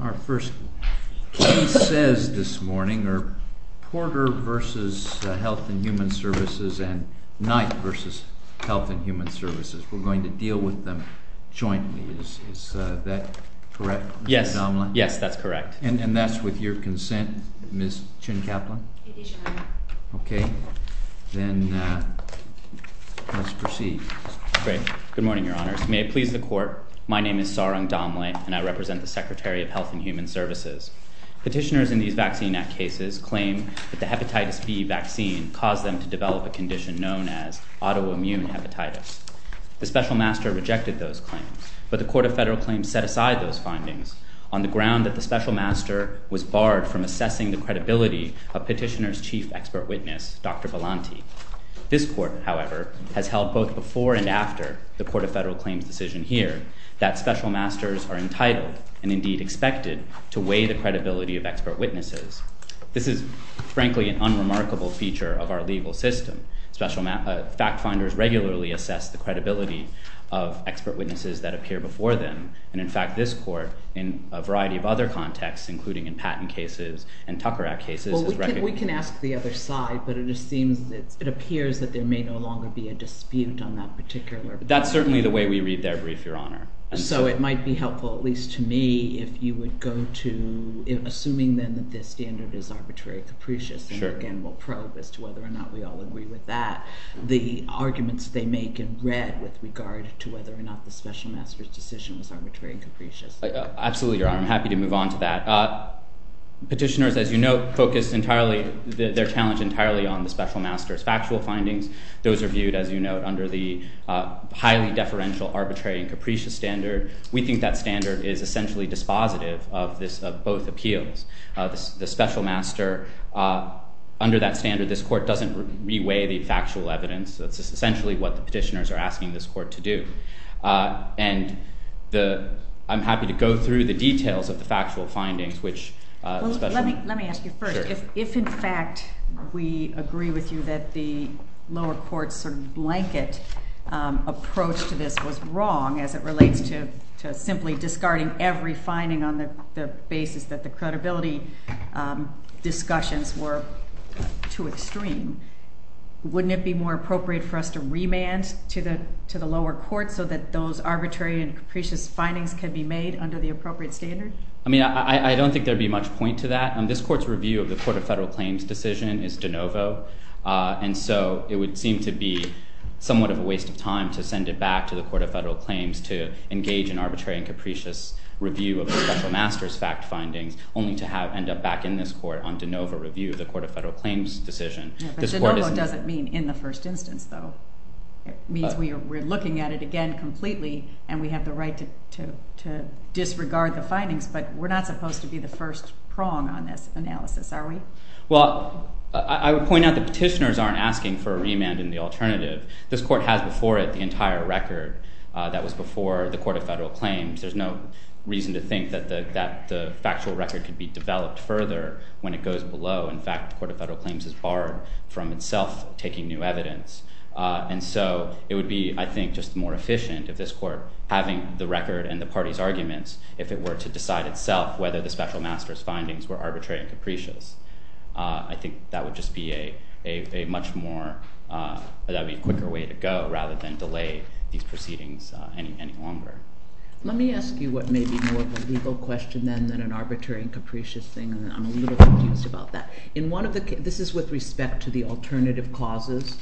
Our first case says this morning are Porter v. Health and Human Services and Knight v. Health and Human Services. We're going to deal with them jointly. Is that correct, Mr. Domlin? Yes, that's correct. And that's with your consent, Ms. Chin-Kaplan? It is, Your Honor. Okay, then let's proceed. Good morning, Your Honors. May it please the Court, my name is Saurang Domlin, and I represent the Secretary of Health and Human Services. Petitioners in these Vaccine Act cases claim that the hepatitis B vaccine caused them to develop a condition known as autoimmune hepatitis. The Special Master rejected those claims, but the Court of Federal Claims set aside those findings on the ground that the Special Master was barred from assessing the credibility of Petitioner's chief expert witness, Dr. Volante. This Court, however, has held both before and after the Court of Federal Claims' decision here that Special Masters are entitled and, indeed, expected to weigh the credibility of expert witnesses. This is, frankly, an unremarkable feature of our legal system. Special Fact Finders regularly assess the credibility of expert witnesses that appear before them, and, in fact, this Court, in a variety of other contexts, including in Patent cases and Tucker Act cases, has recognized that. Right, but it appears that there may no longer be a dispute on that particular point. That's certainly the way we read their brief, Your Honor. So it might be helpful, at least to me, if you would go to, assuming then that this standard is arbitrary and capricious, and again we'll probe as to whether or not we all agree with that, the arguments they make in red with regard to whether or not the Special Master's decision was arbitrary and capricious. Absolutely, Your Honor. I'm happy to move on to that. Petitioners, as you note, focus entirely, their challenge entirely on the Special Master's factual findings. Those are viewed, as you note, under the highly deferential arbitrary and capricious standard. We think that standard is essentially dispositive of both appeals. The Special Master, under that standard, this Court doesn't re-weigh the factual evidence. That's essentially what the petitioners are asking this Court to do. And I'm happy to go through the details of the factual findings, which especially— Well, let me ask you first. If in fact we agree with you that the lower court's sort of blanket approach to this was wrong as it relates to simply discarding every finding on the basis that the credibility discussions were too extreme, wouldn't it be more appropriate for us to remand to the lower court so that those arbitrary and capricious findings can be made under the appropriate standard? I mean, I don't think there'd be much point to that. This Court's review of the Court of Federal Claims decision is de novo. And so it would seem to be somewhat of a waste of time to send it back to the Court of Federal Claims to engage in arbitrary and capricious review of the Special Master's fact findings, only to end up back in this Court on de novo review of the Court of Federal Claims decision. Yeah, but de novo doesn't mean in the first instance, though. It means we're looking at it again completely, and we have the right to disregard the findings. But we're not supposed to be the first prong on this analysis, are we? Well, I would point out that petitioners aren't asking for a remand in the alternative. This Court has before it the entire record that was before the Court of Federal Claims. There's no reason to think that the factual record could be developed further when it goes below. In fact, the Court of Federal Claims has borrowed from itself taking new evidence. And so it would be, I think, just more efficient of this Court having the record and the party's arguments if it were to decide itself whether the Special Master's findings were arbitrary and capricious. I think that would just be a much more—that would be a quicker way to go rather than delay these proceedings any longer. Let me ask you what may be more of a legal question then than an arbitrary and capricious thing. And I'm a little confused about that. In one of the—this is with respect to the alternative causes.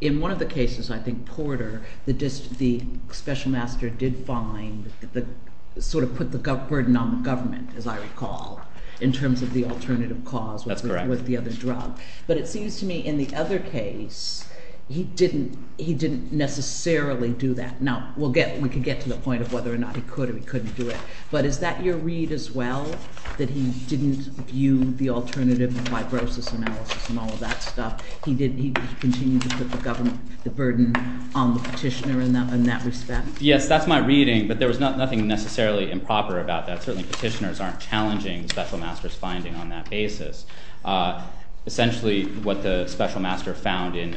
In one of the cases, I think, Porter, the Special Master did find the—sort of put the burden on the government, as I recall, in terms of the alternative cause with the other drug. That's correct. But it seems to me in the other case he didn't necessarily do that. Now, we'll get—we can get to the point of whether or not he could or he couldn't do it. But is that your read as well, that he didn't view the alternative fibrosis analysis and all of that stuff? He didn't—he continued to put the government—the burden on the petitioner in that respect? Yes, that's my reading. But there was nothing necessarily improper about that. Certainly, petitioners aren't challenging the Special Master's finding on that basis. Essentially, what the Special Master found in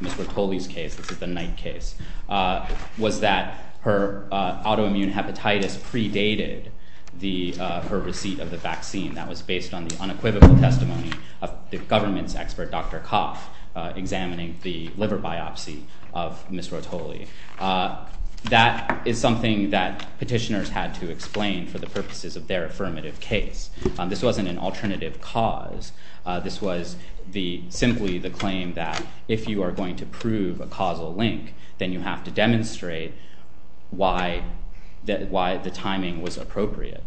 Ms. Rotoli's case—this is the Knight case—was that her autoimmune hepatitis predated her receipt of the vaccine. That was based on the unequivocal testimony of the government's expert, Dr. Coff, examining the liver biopsy of Ms. Rotoli. That is something that petitioners had to explain for the purposes of their affirmative case. This wasn't an alternative cause. This was simply the claim that if you are going to prove a causal link, then you have to demonstrate why the timing was appropriate.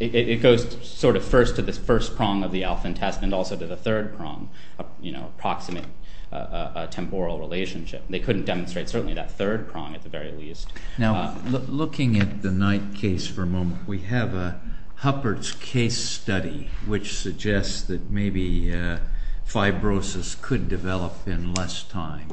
It goes sort of first to the first prong of the alpha test and also to the third prong, approximate a temporal relationship. They couldn't demonstrate certainly that third prong at the very least. Now, looking at the Knight case for a moment, we have Huppert's case study, which suggests that maybe fibrosis could develop in less time.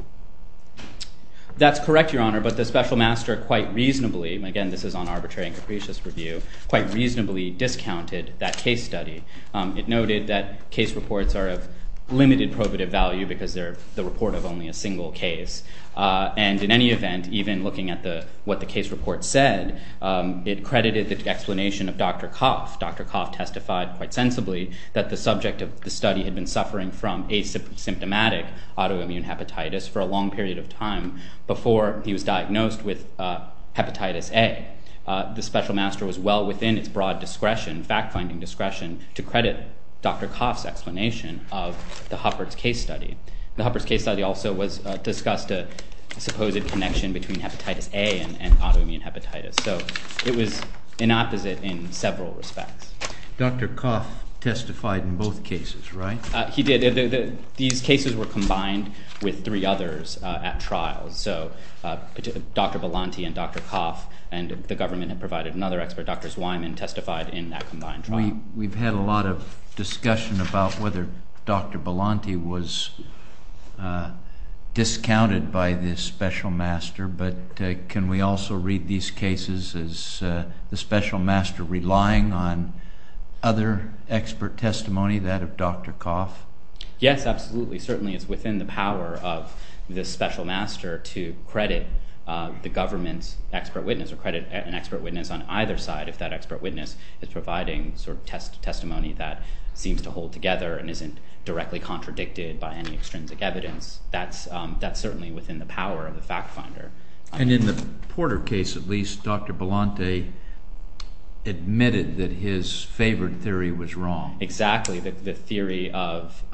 That's correct, Your Honor, but the Special Master quite reasonably—and again, this is on arbitrary and capricious review—quite reasonably discounted that case study. It noted that case reports are of limited probative value because they're the report of only a single case. And in any event, even looking at what the case report said, it credited the explanation of Dr. Coff. Dr. Coff testified quite sensibly that the subject of the study had been suffering from asymptomatic autoimmune hepatitis for a long period of time before he was diagnosed with hepatitis A. The Special Master was well within its broad discretion, fact-finding discretion, to credit Dr. Coff's explanation of the Huppert's case study. The Huppert's case study also discussed a supposed connection between hepatitis A and autoimmune hepatitis. So it was an opposite in several respects. Dr. Coff testified in both cases, right? He did. These cases were combined with three others at trial. So Dr. Belanti and Dr. Coff and the government had provided another expert, Dr. Zweiman, testified in that combined trial. We've had a lot of discussion about whether Dr. Belanti was discounted by the Special Master, but can we also read these cases as the Special Master relying on other expert testimony, that of Dr. Coff? Yes, absolutely. Certainly it's within the power of the Special Master to credit the government's expert witness or credit an expert witness on either side if that expert witness is providing testimony that seems to hold together and isn't directly contradicted by any extrinsic evidence. That's certainly within the power of the fact-finder. And in the Porter case, at least, Dr. Belanti admitted that his favored theory was wrong. Exactly. The theory of –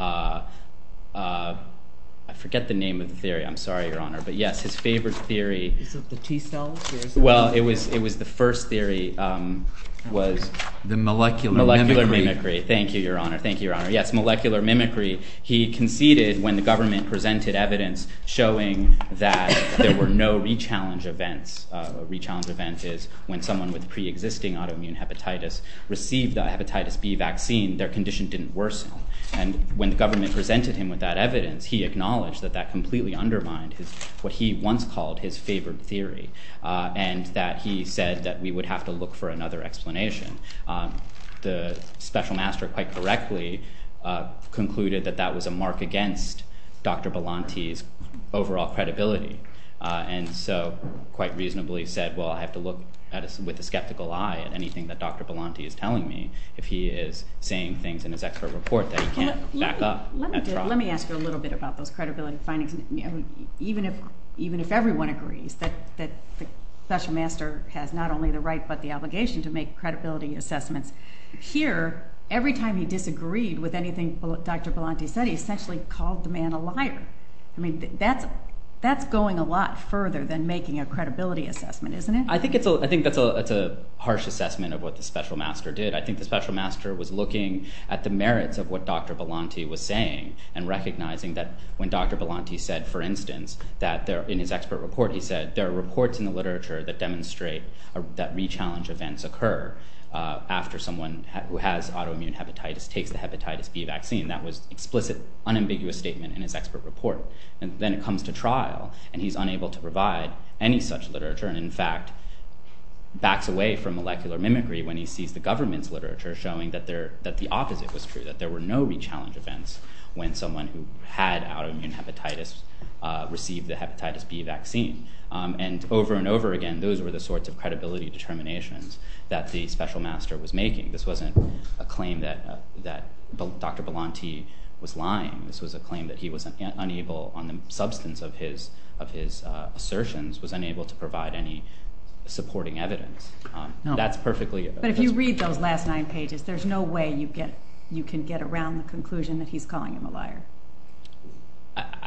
I forget the name of the theory. I'm sorry, Your Honor. But yes, his favored theory… Is it the T-cells? Well, it was the first theory was… The molecular mimicry. Molecular mimicry. Thank you, Your Honor. Thank you, Your Honor. Yes, molecular mimicry. He conceded when the government presented evidence showing that there were no re-challenge events. A re-challenge event is when someone with pre-existing autoimmune hepatitis received the hepatitis B vaccine, their condition didn't worsen. And when the government presented him with that evidence, he acknowledged that that completely undermined what he once called his favored theory and that he said that we would have to look for another explanation. The special master quite correctly concluded that that was a mark against Dr. Belanti's overall credibility. And so quite reasonably said, well, I have to look with a skeptical eye at anything that Dr. Belanti is telling me if he is saying things in his expert report that he can't back up. Let me ask you a little bit about those credibility findings. Even if everyone agrees that the special master has not only the right but the obligation to make credibility assessments, here, every time he disagreed with anything Dr. Belanti said, he essentially called the man a liar. I mean, that's going a lot further than making a credibility assessment, isn't it? I think that's a harsh assessment of what the special master did. I think the special master was looking at the merits of what Dr. Belanti was saying and recognizing that when Dr. Belanti said, for instance, that in his expert report, he said there are reports in the literature that demonstrate that rechallenge events occur after someone who has autoimmune hepatitis takes the hepatitis B vaccine. That was explicit, unambiguous statement in his expert report. And then it comes to trial, and he's unable to provide any such literature. And in fact, backs away from molecular mimicry when he sees the government's literature showing that the opposite was true, that there were no rechallenge events when someone who had autoimmune hepatitis received the hepatitis B vaccine. And over and over again, those were the sorts of credibility determinations that the special master was making. This wasn't a claim that Dr. Belanti was lying. This was a claim that he was unable, on the substance of his assertions, was unable to provide any supporting evidence. But if you read those last nine pages, there's no way you can get around the conclusion that he's calling him a liar.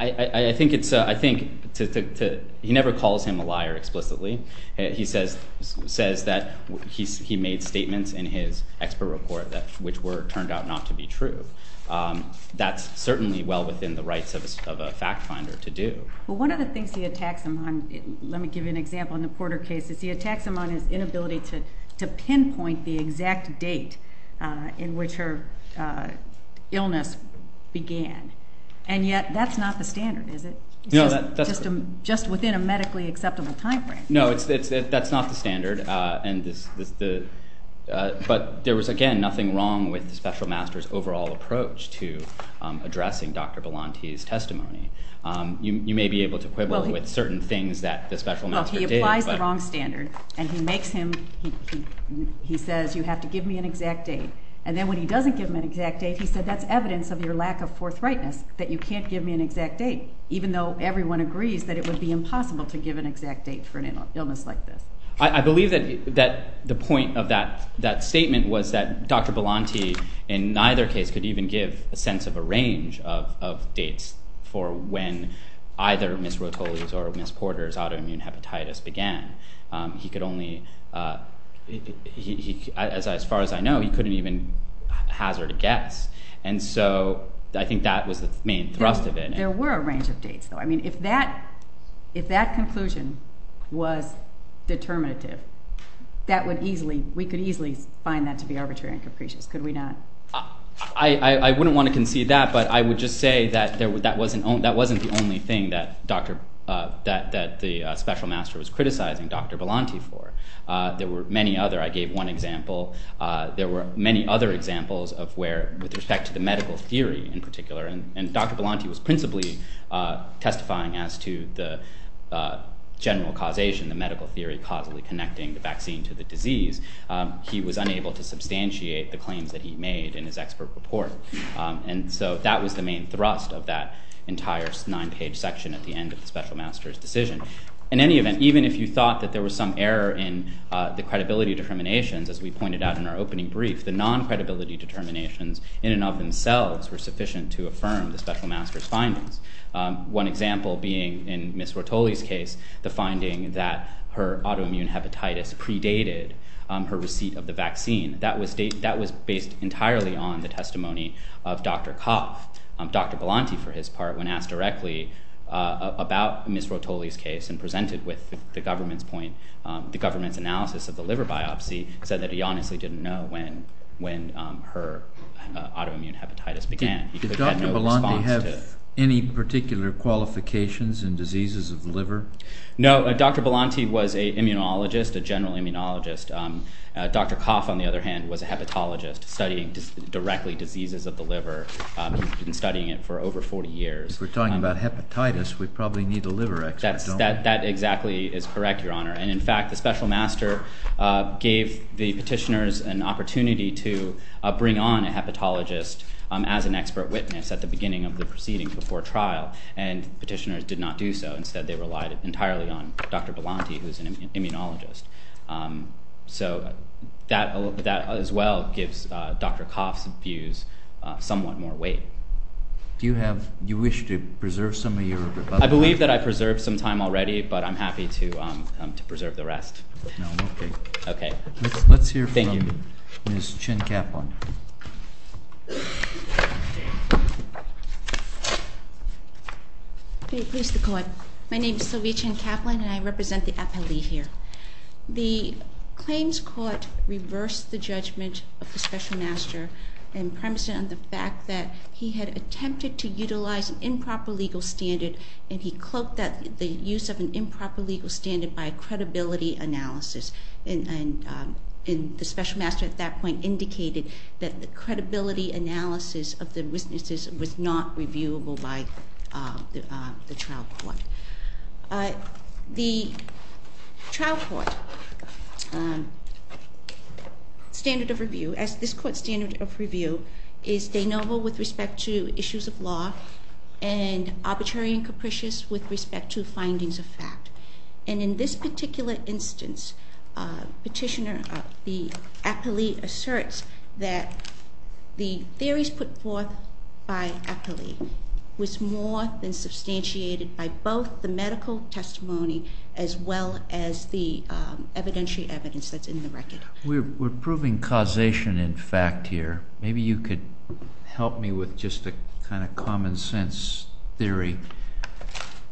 I think he never calls him a liar explicitly. He says that he made statements in his expert report which turned out not to be true. That's certainly well within the rights of a fact finder to do. Well, one of the things he attacks him on, let me give you an example. In the Porter case, he attacks him on his inability to pinpoint the exact date in which her illness began. And yet, that's not the standard, is it? No, that's correct. Just within a medically acceptable time frame. No, that's not the standard. But there was, again, nothing wrong with the special master's overall approach to addressing Dr. Belanti's testimony. You may be able to quibble with certain things that the special master did. Well, he applies the wrong standard, and he says, you have to give me an exact date. And then when he doesn't give him an exact date, he said, that's evidence of your lack of forthrightness, that you can't give me an exact date, even though everyone agrees that it would be impossible to give an exact date for an illness like this. I believe that the point of that statement was that Dr. Belanti, in neither case, could even give a sense of a range of dates for when either Ms. Rotolis or Ms. Porter's autoimmune hepatitis began. He could only, as far as I know, he couldn't even hazard a guess. And so I think that was the main thrust of it. There were a range of dates, though. I mean, if that conclusion was determinative, we could easily find that to be arbitrary and capricious. Could we not? I wouldn't want to concede that, but I would just say that that wasn't the only thing that the special master was criticizing Dr. Belanti for. There were many other. I gave one example. There were many other examples with respect to the medical theory, in particular. And Dr. Belanti was principally testifying as to the general causation, the medical theory causally connecting the vaccine to the disease. He was unable to substantiate the claims that he made in his expert report. And so that was the main thrust of that entire nine-page section at the end of the special master's decision. In any event, even if you thought that there was some error in the credibility determinations, as we pointed out in our opening brief, the non-credibility determinations in and of themselves were sufficient to affirm the special master's findings. One example being in Ms. Rotoli's case, the finding that her autoimmune hepatitis predated her receipt of the vaccine. That was based entirely on the testimony of Dr. Coff. Dr. Belanti, for his part, when asked directly about Ms. Rotoli's case and presented with the government's point, the government's analysis of the liver biopsy, said that he honestly didn't know when her autoimmune hepatitis began. Did Dr. Belanti have any particular qualifications in diseases of the liver? No. Dr. Belanti was an immunologist, a general immunologist. Dr. Coff, on the other hand, was a hepatologist studying directly diseases of the liver. He'd been studying it for over 40 years. If we're talking about hepatitis, we probably need a liver expert, don't we? That exactly is correct, Your Honor. And in fact, the special master gave the petitioners an opportunity to bring on a hepatologist as an expert witness at the beginning of the proceedings before trial. And petitioners did not do so. Instead, they relied entirely on Dr. Belanti, who's an immunologist. So that as well gives Dr. Coff's views somewhat more weight. Do you wish to preserve some of your rebuttals? I believe that I preserved some time already, but I'm happy to preserve the rest. Okay. Let's hear from Ms. Chin-Kaplan. May it please the Court. My name is Sylvia Chin-Kaplan, and I represent the appellee here. The claims court reversed the judgment of the special master and premised it on the fact that he had attempted to utilize an improper legal standard, and he cloaked the use of an improper legal standard by a credibility analysis. And the special master at that point indicated that the credibility analysis of the witnesses was not reviewable by the trial court. The trial court standard of review, as this court's standard of review, is de novo with respect to issues of law and arbitrary and capricious with respect to findings of fact. And in this particular instance, Petitioner, the appellee asserts that the theories put forth by appellee was more than substantiated by both the medical testimony as well as the evidentiary evidence that's in the record. We're proving causation in fact here. Maybe you could help me with just a kind of common sense theory.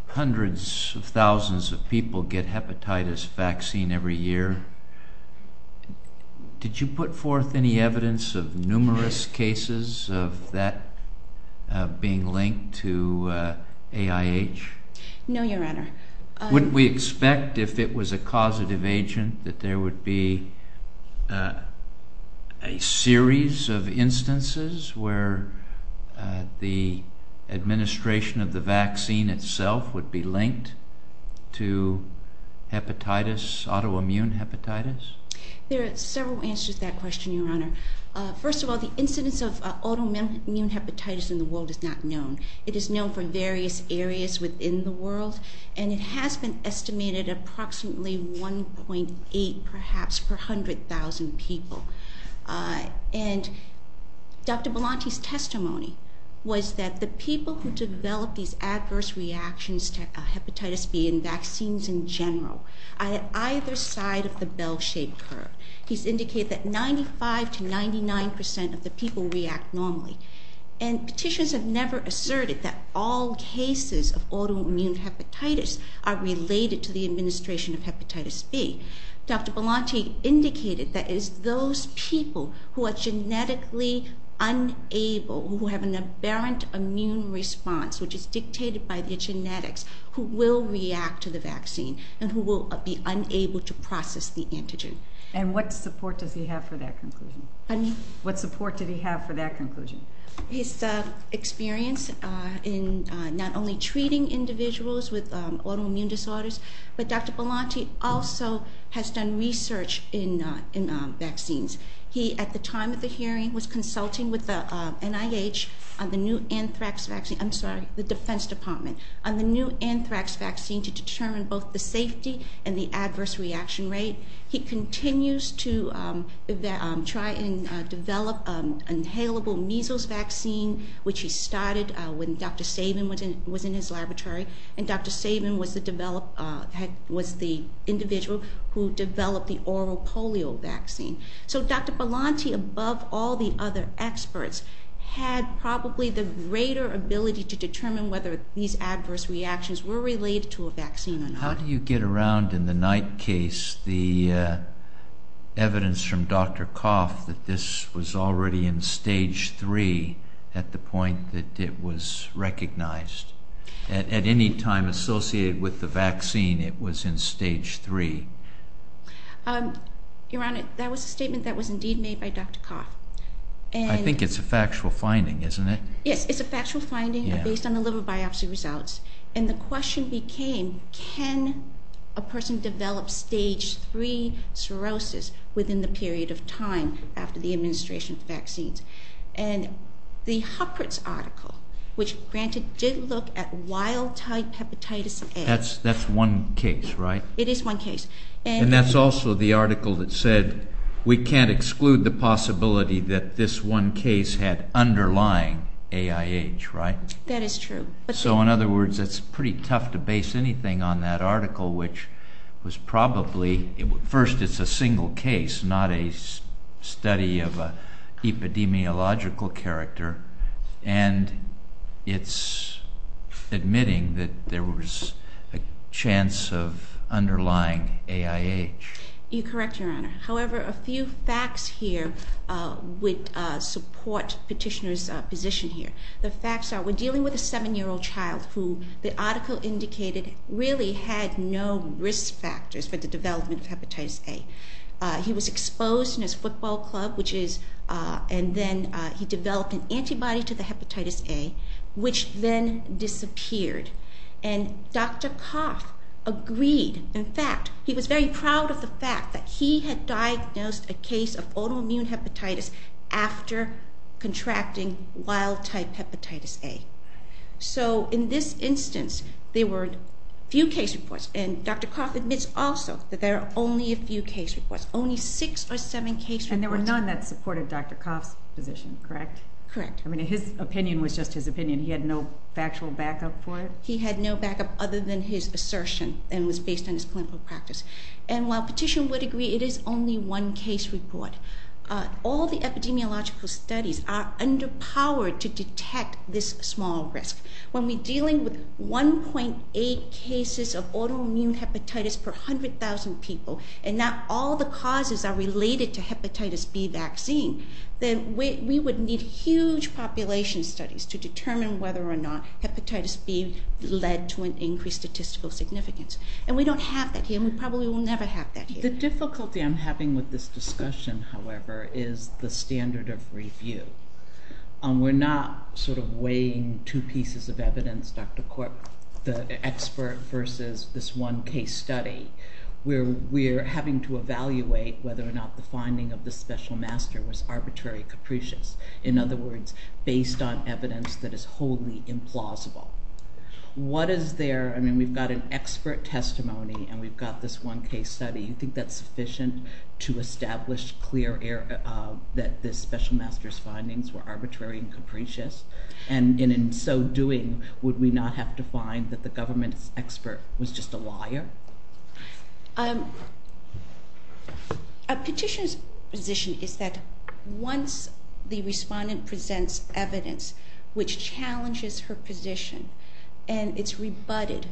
Hundreds of thousands of people get hepatitis vaccine every year. Did you put forth any evidence of numerous cases of that being linked to AIH? No, Your Honor. Wouldn't we expect if it was a causative agent that there would be a series of instances where the administration of the vaccine itself would be linked to hepatitis, autoimmune hepatitis? There are several answers to that question, Your Honor. First of all, the incidence of autoimmune hepatitis in the world is not known. It is known for various areas within the world, and it has been estimated approximately 1.8 perhaps per 100,000 people. And Dr. Belanti's testimony was that the people who develop these adverse reactions to hepatitis B and vaccines in general, either side of the bell-shaped curve, he's indicated that 95% to 99% of the people react normally. And petitions have never asserted that all cases of autoimmune hepatitis are related to the administration of hepatitis B. Dr. Belanti indicated that it is those people who are genetically unable, who have an aberrant immune response, which is dictated by their genetics, who will react to the vaccine and who will be unable to process the antigen. And what support does he have for that conclusion? Pardon me? What support did he have for that conclusion? His experience in not only treating individuals with autoimmune disorders, but Dr. Belanti also has done research in vaccines. He, at the time of the hearing, was consulting with the NIH on the new anthrax vaccine. I'm sorry, the Defense Department, on the new anthrax vaccine to determine both the safety and the adverse reaction rate. He continues to try and develop an inhalable measles vaccine, which he started when Dr. Sabin was in his laboratory. And Dr. Sabin was the individual who developed the oral polio vaccine. So Dr. Belanti, above all the other experts, had probably the greater ability to determine whether these adverse reactions were related to a vaccine or not. How do you get around, in the Knight case, the evidence from Dr. Coff that this was already in Stage 3 at the point that it was recognized? At any time associated with the vaccine, it was in Stage 3. Your Honor, that was a statement that was indeed made by Dr. Coff. I think it's a factual finding, isn't it? Yes, it's a factual finding based on the liver biopsy results. And the question became, can a person develop Stage 3 cirrhosis within the period of time after the administration of vaccines? And the Huppert's article, which, granted, did look at wild-type hepatitis A. That's one case, right? It is one case. And that's also the article that said we can't exclude the possibility that this one case had underlying AIH, right? That is true. So, in other words, it's pretty tough to base anything on that article, which was probably, first, it's a single case, not a study of an epidemiological character. And it's admitting that there was a chance of underlying AIH. You're correct, Your Honor. However, a few facts here would support Petitioner's position here. The facts are we're dealing with a 7-year-old child who the article indicated really had no risk factors for the development of hepatitis A. He was exposed in his football club, and then he developed an antibody to the hepatitis A, which then disappeared. And Dr. Coff agreed. In fact, he was very proud of the fact that he had diagnosed a case of autoimmune hepatitis after contracting wild-type hepatitis A. So, in this instance, there were few case reports. And Dr. Coff admits also that there are only a few case reports, only six or seven case reports. And there were none that supported Dr. Coff's position, correct? Correct. I mean, his opinion was just his opinion. He had no factual backup for it? He had no backup other than his assertion, and it was based on his clinical practice. And while Petitioner would agree it is only one case report, all the epidemiological studies are underpowered to detect this small risk. When we're dealing with 1.8 cases of autoimmune hepatitis per 100,000 people, and not all the causes are related to hepatitis B vaccine, then we would need huge population studies to determine whether or not hepatitis B led to an increased statistical significance. And we don't have that here, and we probably will never have that here. The difficulty I'm having with this discussion, however, is the standard of review. We're not sort of weighing two pieces of evidence, Dr. Corp, the expert versus this one case study. We're having to evaluate whether or not the finding of the special master was arbitrary, capricious. In other words, based on evidence that is wholly implausible. What is there? I mean, we've got an expert testimony, and we've got this one case study. You think that's sufficient to establish clear that the special master's findings were arbitrary and capricious? And in so doing, would we not have to find that the government's expert was just a liar? A petitioner's position is that once the respondent presents evidence which challenges her position, and it's rebutted,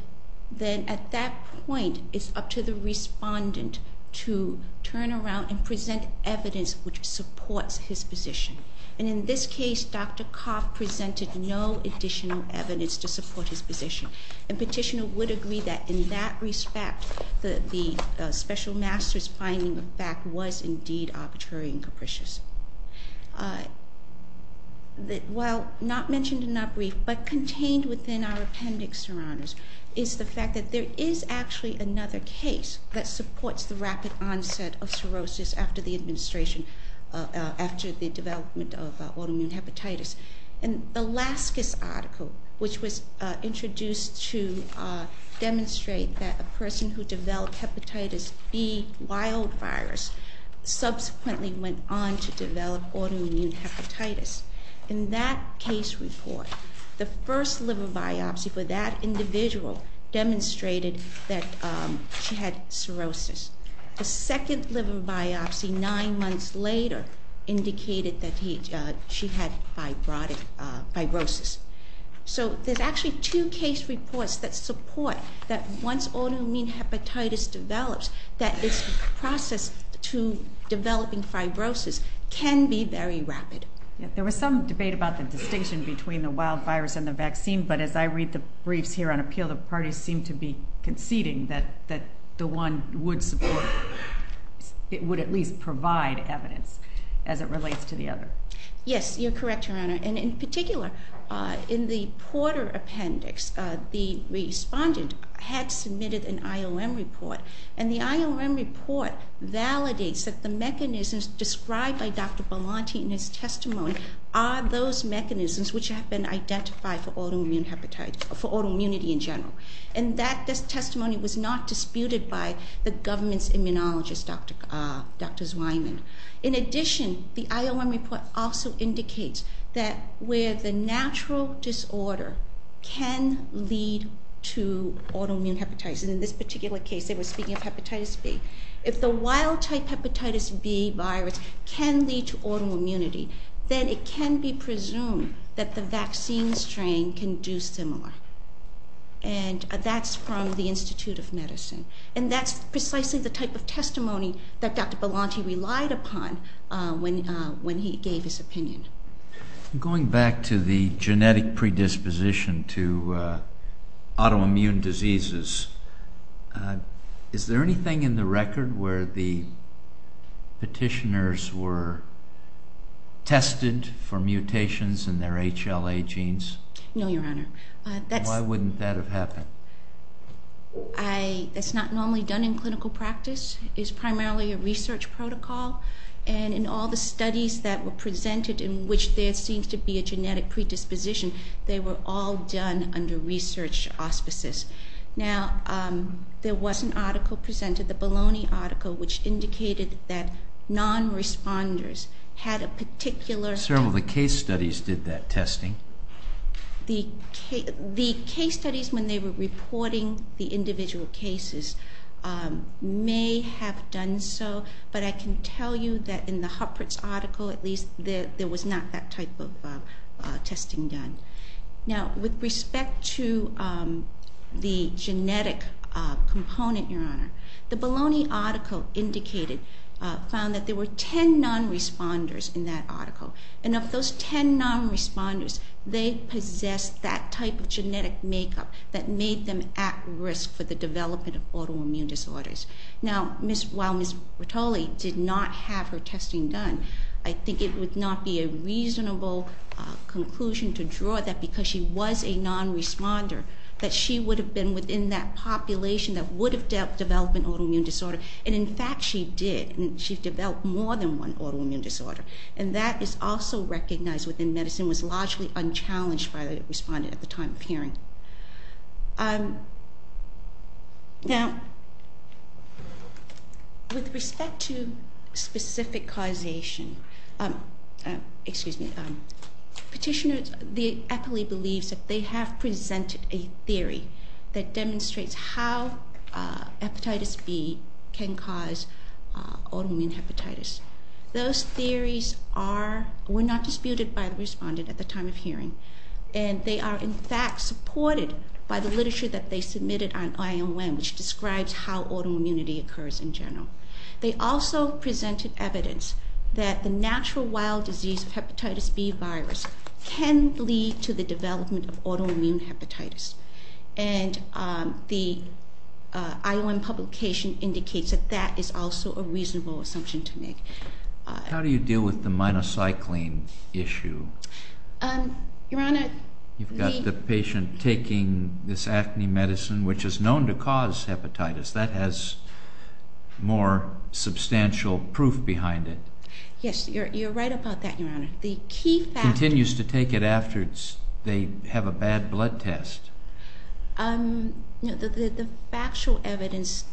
then at that point, it's up to the respondent to turn around and present evidence which supports his position. And in this case, Dr. Corp presented no additional evidence to support his position. And petitioner would agree that in that respect, the special master's finding of fact was indeed arbitrary and capricious. While not mentioned in our brief, but contained within our appendix, Your Honors, is the fact that there is actually another case that supports the rapid onset of cirrhosis after the administration, after the development of autoimmune hepatitis. In the last case article, which was introduced to demonstrate that a person who developed hepatitis B wild virus subsequently went on to develop autoimmune hepatitis. In that case report, the first liver biopsy for that individual demonstrated that she had cirrhosis. The second liver biopsy, nine months later, indicated that she had fibrosis. So there's actually two case reports that support that once autoimmune hepatitis develops, that this process to developing fibrosis can be very rapid. There was some debate about the distinction between the wild virus and the vaccine, but as I read the briefs here on appeal, the parties seem to be conceding that the one would support, it would at least provide evidence as it relates to the other. Yes, you're correct, Your Honor. And in particular, in the Porter appendix, the respondent had submitted an IOM report. And the IOM report validates that the mechanisms described by Dr. Belanti in his testimony are those mechanisms which have been identified for autoimmune hepatitis, for autoimmunity in general. And that testimony was not disputed by the government's immunologist, Dr. Zweiman. In addition, the IOM report also indicates that where the natural disorder can lead to autoimmune hepatitis, and in this particular case they were speaking of hepatitis B, if the wild type hepatitis B virus can lead to autoimmunity, then it can be presumed that the vaccine strain can do similar. And that's from the Institute of Medicine. And that's precisely the type of testimony that Dr. Belanti relied upon when he gave his opinion. Going back to the genetic predisposition to autoimmune diseases, is there anything in the record where the petitioners were tested for mutations in their HLA genes? No, Your Honor. Why wouldn't that have happened? That's not normally done in clinical practice. It's primarily a research protocol. And in all the studies that were presented in which there seems to be a genetic predisposition, they were all done under research auspices. Now, there was an article presented, the Bologna article, which indicated that non-responders had a particular... Well, the case studies did that testing. The case studies when they were reporting the individual cases may have done so, but I can tell you that in the Huppert's article, at least, there was not that type of testing done. Now, with respect to the genetic component, Your Honor, the Bologna article indicated, found that there were 10 non-responders in that article. And of those 10 non-responders, they possessed that type of genetic makeup that made them at risk for the development of autoimmune disorders. Now, while Ms. Bertoli did not have her testing done, I think it would not be a reasonable conclusion to draw that because she was a non-responder, that she would have been within that population that would have developed an autoimmune disorder. And, in fact, she did, and she developed more than one autoimmune disorder. And that is also recognized within medicine, was largely unchallenged by the respondent at the time of hearing. Now, with respect to specific causation, excuse me, petitioners, the appellee believes that they have presented a theory that demonstrates how hepatitis B can cause autoimmune hepatitis. Those theories were not disputed by the respondent at the time of hearing, and they are, in fact, supported by the literature that they submitted on IOM, which describes how autoimmunity occurs in general. They also presented evidence that the natural wild disease of hepatitis B virus can lead to the development of autoimmune hepatitis. And the IOM publication indicates that that is also a reasonable assumption to make. How do you deal with the minocycline issue? Your Honor, the... You've got the patient taking this acne medicine, which is known to cause hepatitis. That has more substantial proof behind it. Yes, you're right about that, Your Honor. The key fact... Continues to take it after they have a bad blood test. The factual evidence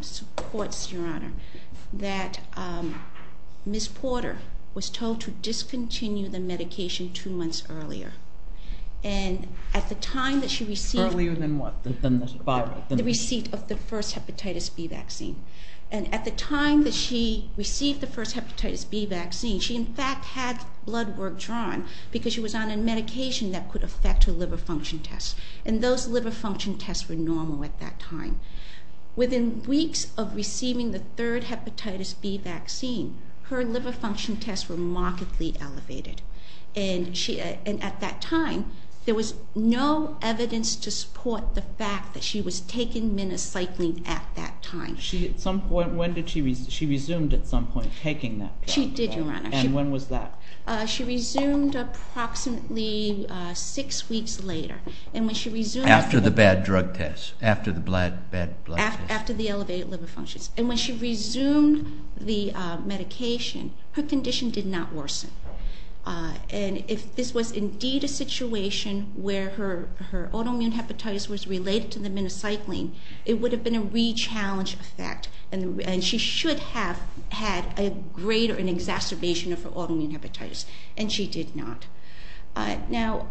supports, Your Honor, that Ms. Porter was told to discontinue the medication two months earlier. And at the time that she received... Earlier than what? The receipt of the first hepatitis B vaccine. And at the time that she received the first hepatitis B vaccine, she, in fact, had blood work drawn because she was on a medication that could affect her liver function tests. And those liver function tests were normal at that time. Within weeks of receiving the third hepatitis B vaccine, her liver function tests were markedly elevated. And at that time, there was no evidence to support the fact that she was taking minocycline at that time. At some point, when did she... She resumed at some point taking that. She did, Your Honor. And when was that? She resumed approximately six weeks later. And when she resumed... After the bad drug test, after the bad blood test. After the elevated liver functions. And when she resumed the medication, her condition did not worsen. And if this was indeed a situation where her autoimmune hepatitis was related to the minocycline, it would have been a re-challenge effect. And she should have had a greater exacerbation of her autoimmune hepatitis. And she did not. Now,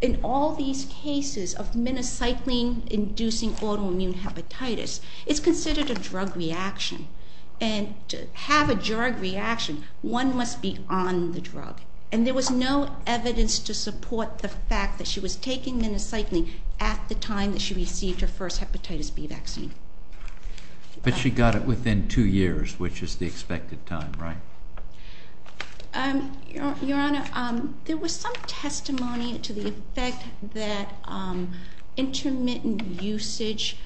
in all these cases of minocycline-inducing autoimmune hepatitis, it's considered a drug reaction. And to have a drug reaction, one must be on the drug. And there was no evidence to support the fact that she was taking minocycline at the time that she received her first hepatitis B vaccine. But she got it within two years, which is the expected time, right? Your Honor, there was some testimony to the effect that intermittent usage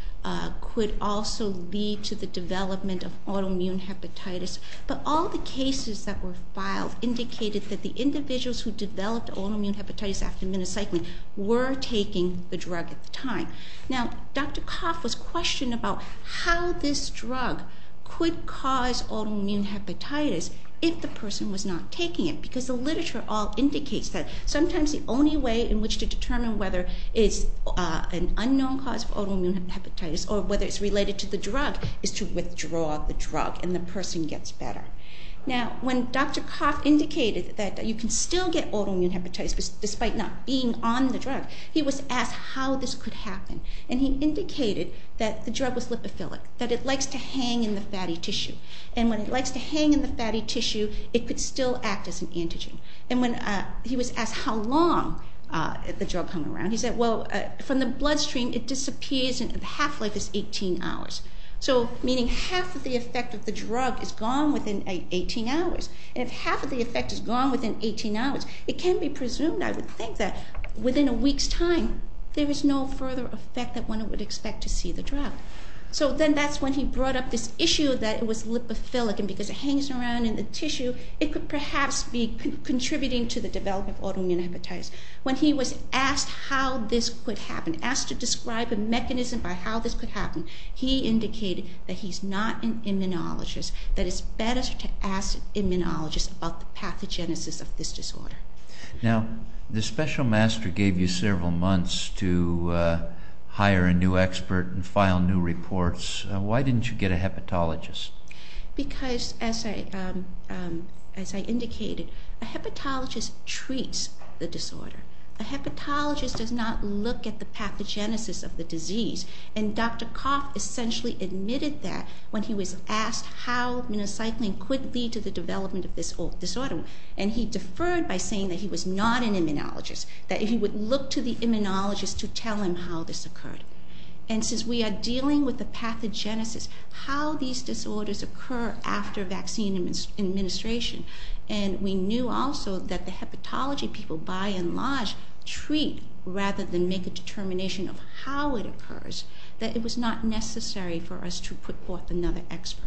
could also lead to the development of autoimmune hepatitis. But all the cases that were filed indicated that the individuals who developed autoimmune hepatitis after minocycline were taking the drug at the time. Now, Dr. Koff was questioned about how this drug could cause autoimmune hepatitis if the person was not taking it, because the literature all indicates that sometimes the only way in which to determine whether it's an unknown cause of autoimmune hepatitis or whether it's related to the drug is to withdraw the drug, and the person gets better. Now, when Dr. Koff indicated that you can still get autoimmune hepatitis despite not being on the drug, he was asked how this could happen. And he indicated that the drug was lipophilic, that it likes to hang in the fatty tissue. And when it likes to hang in the fatty tissue, it could still act as an antigen. And he was asked how long the drug hung around. He said, well, from the bloodstream it disappears, and half-life is 18 hours. So meaning half of the effect of the drug is gone within 18 hours. And if half of the effect is gone within 18 hours, it can be presumed, I would think, that within a week's time there is no further effect that one would expect to see the drug. So then that's when he brought up this issue that it was lipophilic, and because it hangs around in the tissue, it could perhaps be contributing to the development of autoimmune hepatitis. When he was asked how this could happen, asked to describe a mechanism by how this could happen, he indicated that he's not an immunologist, that it's better to ask an immunologist about the pathogenesis of this disorder. Now, the special master gave you several months to hire a new expert and file new reports. Why didn't you get a hepatologist? Because, as I indicated, a hepatologist treats the disorder. A hepatologist does not look at the pathogenesis of the disease. And Dr. Koff essentially admitted that when he was asked how minocycline could lead to the development of this disorder, and he deferred by saying that he was not an immunologist, that he would look to the immunologist to tell him how this occurred. And since we are dealing with the pathogenesis, how these disorders occur after vaccine administration, and we knew also that the hepatology people, by and large, treat rather than make a determination of how it occurs, that it was not necessary for us to put forth another expert.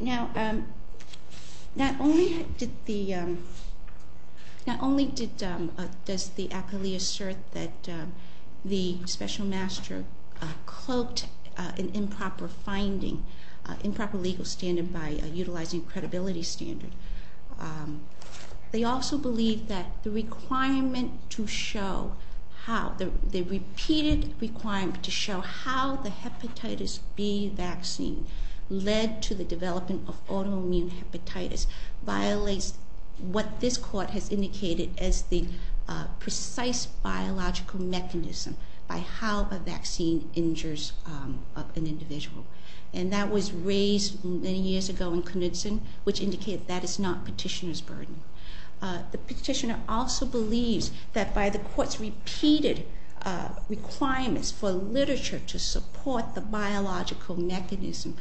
Now, not only did the acolyte assert that the special master cloaked an improper legal standard by utilizing a credibility standard, they also believed that the repeated requirement to show how the hepatitis B vaccine led to the development of autoimmune hepatitis violates what this court has indicated as the precise biological mechanism by how a vaccine injures an individual. And that was raised many years ago in Knudsen, which indicated that is not petitioner's burden. The petitioner also believes that by the court's repeated requirements for literature to support the biological mechanism,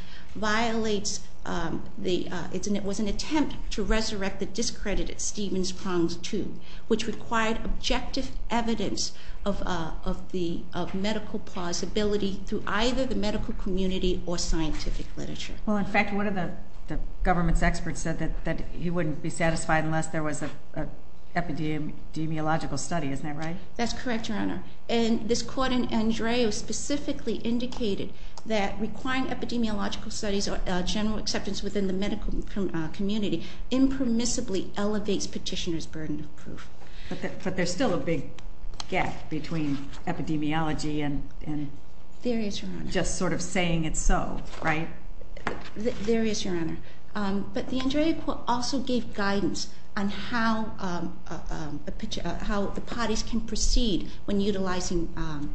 it was an attempt to resurrect the discredited Stevens-Prongs tube, which required objective evidence of medical plausibility through either the medical community or scientific literature. Well, in fact, one of the government's experts said that he wouldn't be satisfied unless there was an epidemiological study. Isn't that right? That's correct, Your Honor. And this court in Andrea specifically indicated that requiring epidemiological studies or general acceptance within the medical community impermissibly elevates petitioner's burden of proof. But there's still a big gap between epidemiology and just sort of saying it's so, right? There is, Your Honor. But the Andrea court also gave guidance on how the parties can proceed when utilizing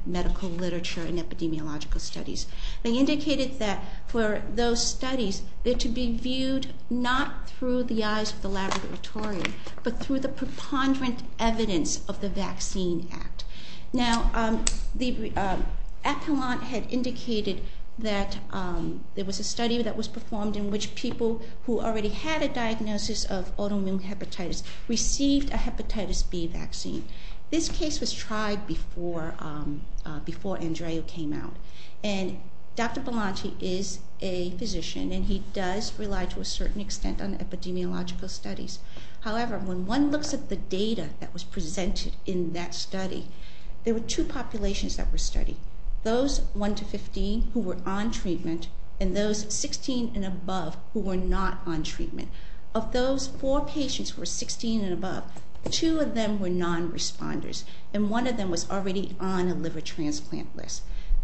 medical literature and epidemiological studies. They indicated that for those studies, they're to be viewed not through the eyes of the laboratory but through the preponderant evidence of the vaccine act. Now, the epilogue had indicated that there was a study that was performed in which people who already had a diagnosis of autoimmune hepatitis received a hepatitis B vaccine. This case was tried before Andrea came out. And Dr. Belanti is a physician, and he does rely to a certain extent on epidemiological studies. However, when one looks at the data that was presented in that study, there were two populations that were studied, those 1 to 15 who were on treatment and those 16 and above who were not on treatment. Of those four patients who were 16 and above, two of them were non-responders, and one of them was already on a liver transplant list.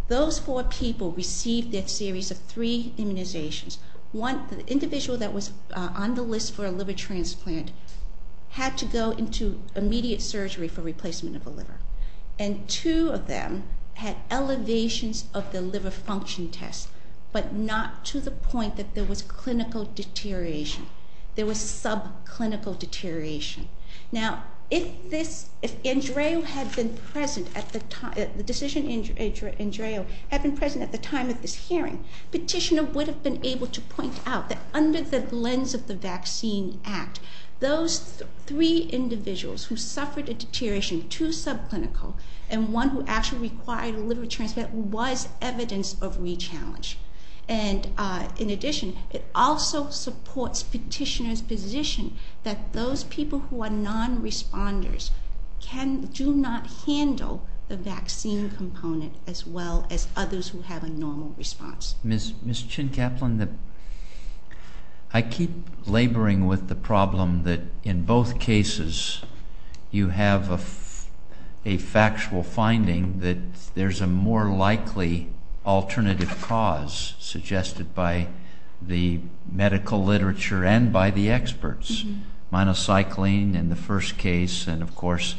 Those four people received a series of three immunizations. One, the individual that was on the list for a liver transplant had to go into immediate surgery for replacement of the liver. And two of them had elevations of the liver function test but not to the point that there was clinical deterioration. There was subclinical deterioration. Now, if Andrea had been present at the time, the decision Andrea had been present at the time of this hearing, petitioner would have been able to point out that under the lens of the Vaccine Act, those three individuals who suffered a deterioration to subclinical and one who actually required a liver transplant was evidence of re-challenge. And in addition, it also supports petitioner's position that those people who are non-responders do not handle the vaccine component as well as others who have a normal response. Ms. Chin-Kaplan, I keep laboring with the problem that in both cases you have a factual finding that there's a more likely alternative cause suggested by the medical literature and by the experts. Minocycline in the first case and, of course,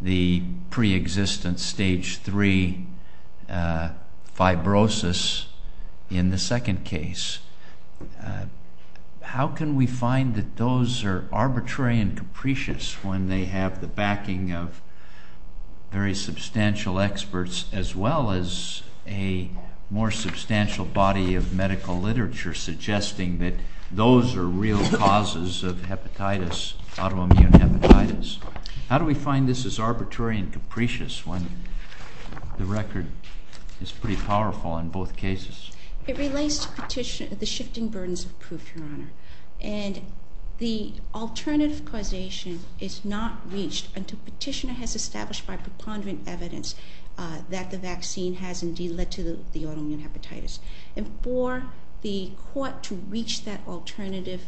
the preexistence stage 3 fibrosis in the second case. How can we find that those are arbitrary and capricious when they have the backing of very substantial experts as well as a more substantial body of medical literature suggesting that those are real causes of hepatitis, autoimmune hepatitis? How do we find this is arbitrary and capricious when the record is pretty powerful in both cases? It relates to the shifting burdens of proof, Your Honor. And the alternative causation is not reached until petitioner has established by preponderant evidence that the vaccine has indeed led to the autoimmune hepatitis. And for the court to reach that alternative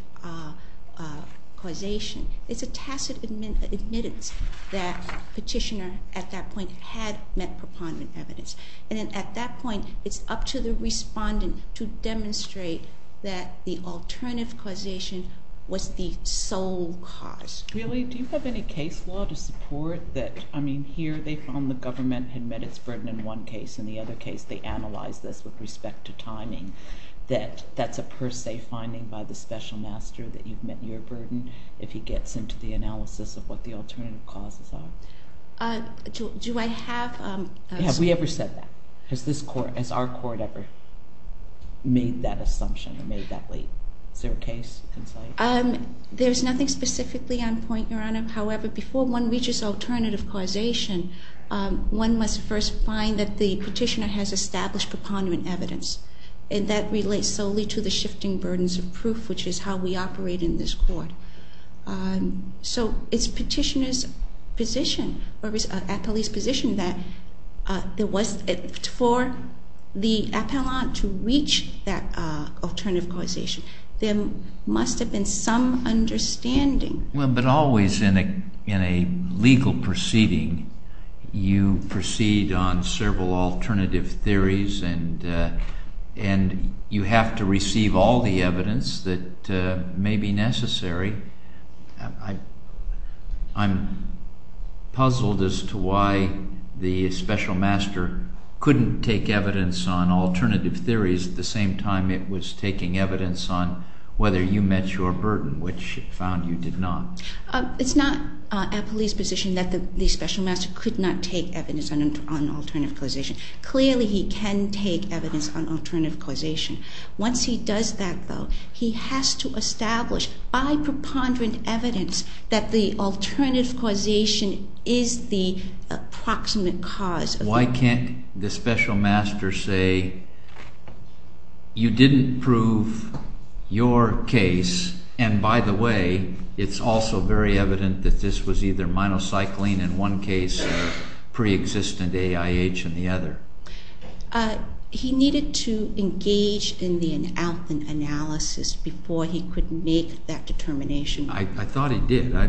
causation, it's a tacit admittance that petitioner at that point had met preponderant evidence. And at that point, it's up to the respondent to demonstrate that the alternative causation was the sole cause. Really? Do you have any case law to support that, I mean, here they found the government had met its burden in one case, in the other case they analyzed this with respect to timing, that that's a per se finding by the special master that you've met your burden if he gets into the analysis of what the alternative causes are? Do I have... Have we ever said that? Has our court ever made that assumption or made that leap? Is there a case in sight? There's nothing specifically on point, Your Honor. However, before one reaches alternative causation, one must first find that the petitioner has established preponderant evidence. And that relates solely to the shifting burdens of proof, which is how we operate in this court. So it's petitioner's position, or at least position, that for the appellant to reach that alternative causation, there must have been some understanding. Well, but always in a legal proceeding, you proceed on several alternative theories, and you have to receive all the evidence that may be necessary. I'm puzzled as to why the special master couldn't take evidence on alternative theories at the same time it was taking evidence on whether you met your burden, which it found you did not. It's not appellee's position that the special master could not take evidence on alternative causation. Clearly, he can take evidence on alternative causation. Once he does that, though, he has to establish by preponderant evidence that the alternative causation is the approximate cause. Why can't the special master say, you didn't prove your case, and by the way, it's also very evident that this was either minocycline in one case or preexistent AIH in the other? He needed to engage in the analysis before he could make that determination. I thought he did. I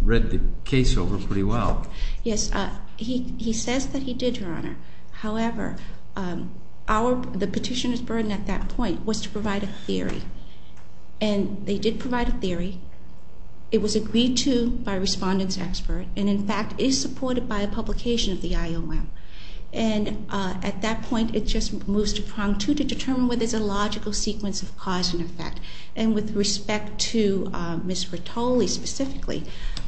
read the case over pretty well. Yes, he says that he did, Your Honor. However, the petitioner's burden at that point was to provide a theory, and they did provide a theory. It was agreed to by a respondent's expert and, in fact, is supported by a publication of the IOM. And at that point, it just moves to prong two to determine whether there's a logical sequence of cause and effect. And with respect to Ms. Rattoli specifically,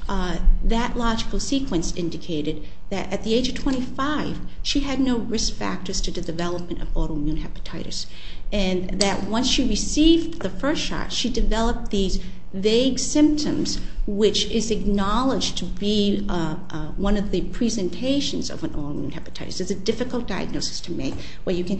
that logical sequence indicated that at the age of 25, she had no risk factors to the development of autoimmune hepatitis and that once she received the first shot, she developed these vague symptoms, which is acknowledged to be one of the presentations of an autoimmune hepatitis. It's a difficult diagnosis to make where you can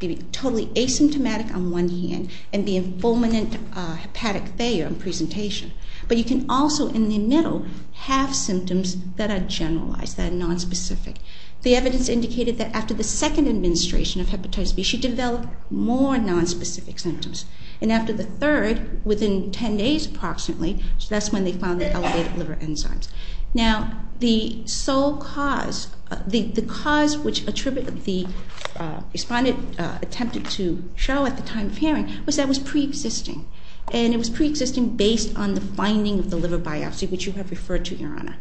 be totally asymptomatic on one hand and be in fulminant hepatic failure on presentation. But you can also, in the middle, have symptoms that are generalized, that are nonspecific. The evidence indicated that after the second administration of hepatitis B, she developed more nonspecific symptoms. And after the third, within 10 days approximately, that's when they found the elevated liver enzymes. Now, the sole cause, the cause which the respondent attempted to show at the time of hearing was that it was preexisting. And it was preexisting based on the finding of the liver biopsy, which you have referred to, Your Honor.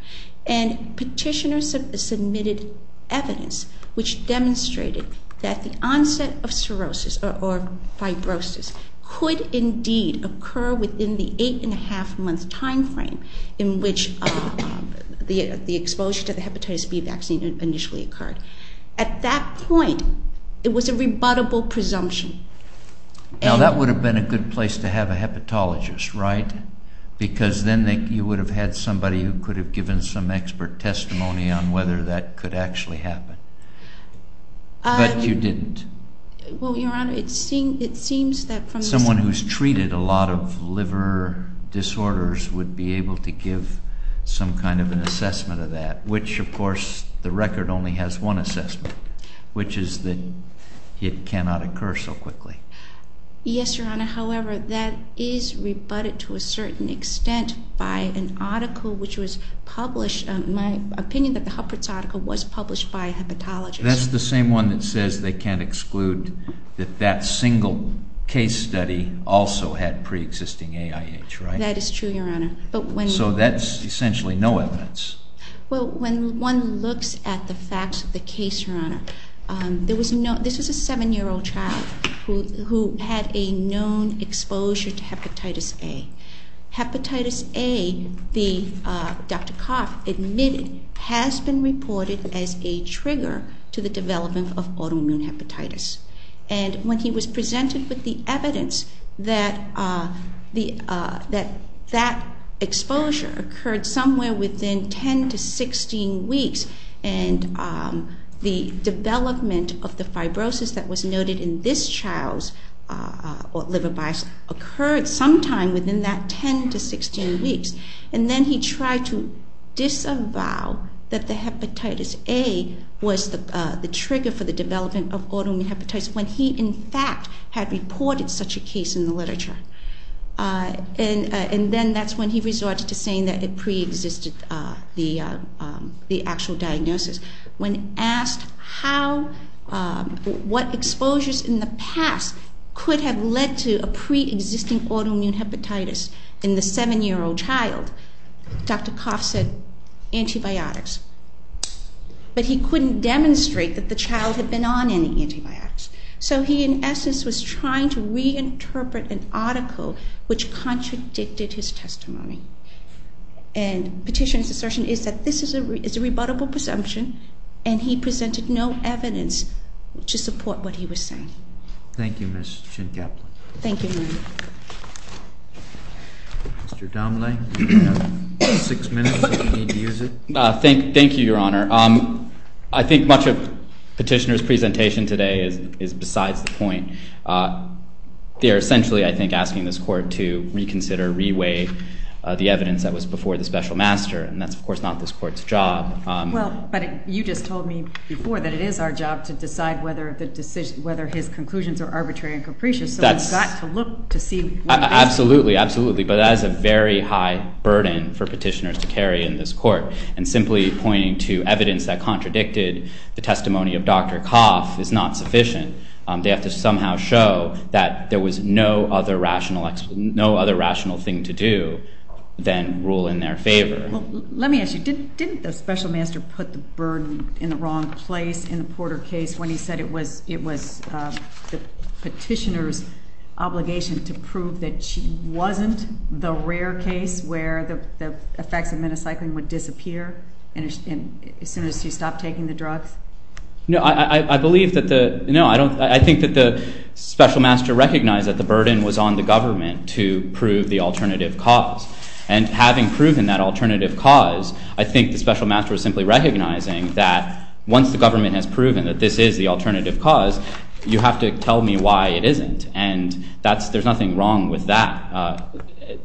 And petitioners submitted evidence which demonstrated that the onset of cirrhosis or fibrosis could indeed occur within the eight-and-a-half-month time frame in which the exposure to the hepatitis B vaccine initially occurred. At that point, it was a rebuttable presumption. Now, that would have been a good place to have a hepatologist, right? Because then you would have had somebody who could have given some expert testimony on whether that could actually happen. But you didn't. Well, Your Honor, it seems that from the... Someone who's treated a lot of liver disorders would be able to give some kind of an assessment of that, which, of course, the record only has one assessment, which is that it cannot occur so quickly. Yes, Your Honor. However, that is rebutted to a certain extent by an article which was published, in my opinion, that the Huppert's article was published by a hepatologist. That's the same one that says they can't exclude that that single case study also had preexisting AIH, right? That is true, Your Honor. So that's essentially no evidence. Well, when one looks at the facts of the case, Your Honor, this is a 7-year-old child who had a known exposure to hepatitis A. Hepatitis A, Dr. Koff admitted, has been reported as a trigger to the development of autoimmune hepatitis. And when he was presented with the evidence that that exposure occurred somewhere within 10 to 16 weeks and the development of the fibrosis that was noted in this child's liver bias occurred sometime within that 10 to 16 weeks, and then he tried to disavow that the hepatitis A was the trigger for the development of autoimmune hepatitis when he, in fact, had reported such a case in the literature. And then that's when he resorted to saying that it preexisted the actual diagnosis. When asked what exposures in the past could have led to a preexisting autoimmune hepatitis in the 7-year-old child, Dr. Koff said, antibiotics. But he couldn't demonstrate that the child had been on any antibiotics. So he, in essence, was trying to reinterpret an article which contradicted his testimony. And petitioner's assertion is that this is a rebuttable presumption, and he presented no evidence to support what he was saying. Thank you, Ms. Schenkeppler. Thank you, Your Honor. Mr. Domley, you have six minutes if you need to use it. Thank you, Your Honor. They are essentially, I think, asking this court to reconsider, reweigh the evidence that was before the special master, and that's, of course, not this court's job. Well, but you just told me before that it is our job to decide whether his conclusions are arbitrary and capricious, so we've got to look to see what is. Absolutely, absolutely. But that is a very high burden for petitioners to carry in this court, and simply pointing to evidence that contradicted the testimony of Dr. Koff is not sufficient. They have to somehow show that there was no other rational thing to do than rule in their favor. Well, let me ask you, didn't the special master put the burden in the wrong place in the Porter case when he said it was the petitioner's obligation to prove that she wasn't the rare case where the effects of menocycling would disappear as soon as she stopped taking the drugs? No, I think that the special master recognized that the burden was on the government to prove the alternative cause, and having proven that alternative cause, I think the special master was simply recognizing that once the government has proven that this is the alternative cause, you have to tell me why it isn't, and there's nothing wrong with that.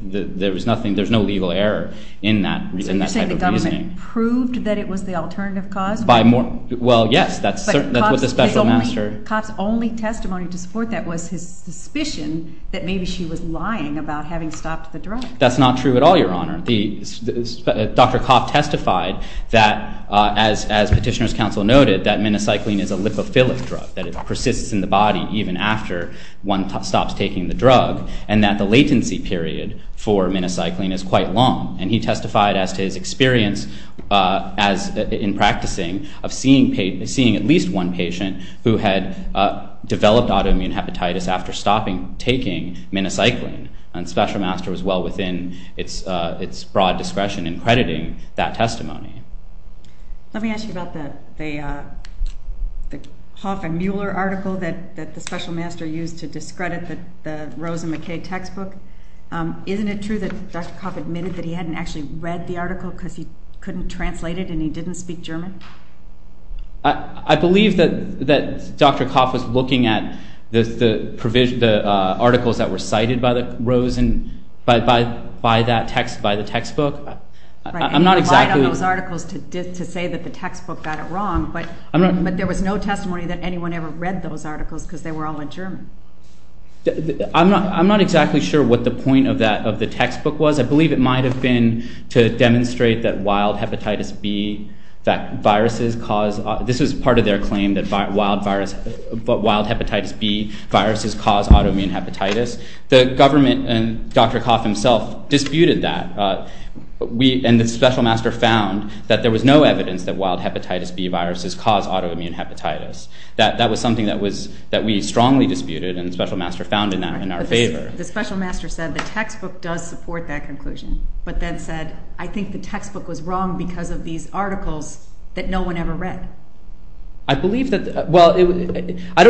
There's no legal error in that type of reasoning. So you're saying the government proved that it was the alternative cause? Well, yes, that's what the special master... But Koff's only testimony to support that was his suspicion that maybe she was lying about having stopped the drug. That's not true at all, Your Honor. Dr. Koff testified that, as petitioner's counsel noted, that menocycline is a lipophilic drug, that it persists in the body even after one stops taking the drug, and that the latency period for menocycline is quite long. And he testified as to his experience in practicing of seeing at least one patient who had developed autoimmune hepatitis after stopping taking menocycline, and the special master was well within its broad discretion in crediting that testimony. Let me ask you about the Koff and Mueller article that the special master used to discredit the Rosen-McCabe textbook. Isn't it true that Dr. Koff admitted that he hadn't actually read the article because he couldn't translate it and he didn't speak German? I believe that Dr. Koff was looking at the articles that were cited by the textbook. He relied on those articles to say that the textbook got it wrong, but there was no testimony that anyone ever read those articles because they were all in German. I'm not exactly sure what the point of the textbook was. I believe it might have been to demonstrate that wild hepatitis B viruses cause autoimmune hepatitis. The government and Dr. Koff himself disputed that, and the special master found that there was no evidence that wild hepatitis B viruses cause autoimmune hepatitis. That was something that we strongly disputed and the special master found in our favor. The special master said the textbook does support that conclusion, but then said, I think the textbook was wrong because of these articles that no one ever read. I don't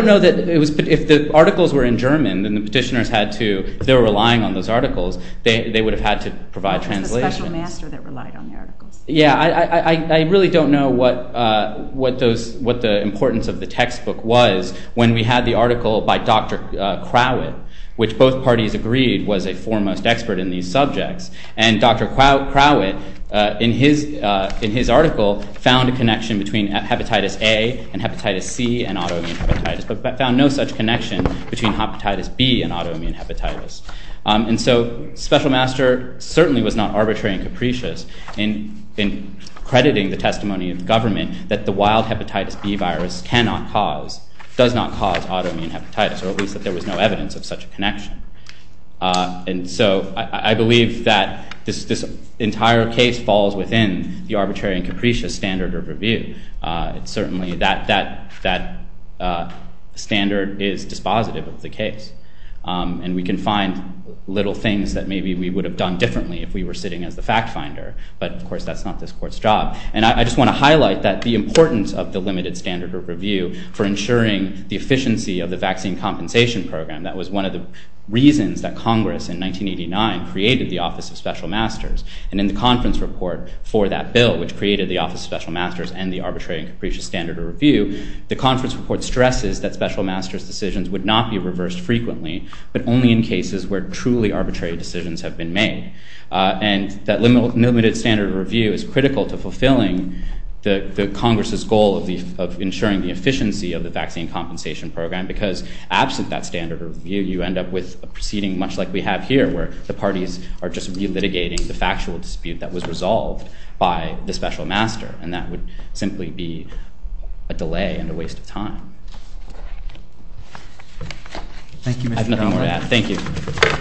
know if the articles were in German and the petitioners had to, if they were relying on those articles, they would have had to provide translations. It was the special master that relied on the articles. I really don't know what the importance of the textbook was when we had the article by Dr. Crowett, which both parties agreed was a foremost expert in these subjects, and Dr. Crowett in his article found a connection between hepatitis A and hepatitis C and autoimmune hepatitis, but found no such connection between hepatitis B and autoimmune hepatitis. And so special master certainly was not arbitrary and capricious in crediting the testimony of the government that the wild hepatitis B virus cannot cause, does not cause autoimmune hepatitis, or at least that there was no evidence of such a connection. And so I believe that this entire case falls within the arbitrary and capricious standard of review. It's certainly that standard is dispositive of the case, and we can find little things that maybe we would have done differently if we were sitting as the fact finder, but of course that's not this court's job. And I just want to highlight that the importance of the limited standard of review for ensuring the efficiency of the vaccine compensation program, that was one of the reasons that Congress in 1989 created the Office of Special Masters, and in the conference report for that bill, which created the Office of Special Masters and the arbitrary and capricious standard of review, the conference report stresses that special master's decisions would not be reversed frequently, but only in cases where truly arbitrary decisions have been made. And that limited standard of review is critical to fulfilling the Congress's goal of ensuring the efficiency of the vaccine compensation program, because absent that standard of review, you end up with a proceeding much like we have here, where the parties are just re-litigating the factual dispute that was resolved by the special master, and that would simply be a delay and a waste of time. I have nothing more to add. Thank you.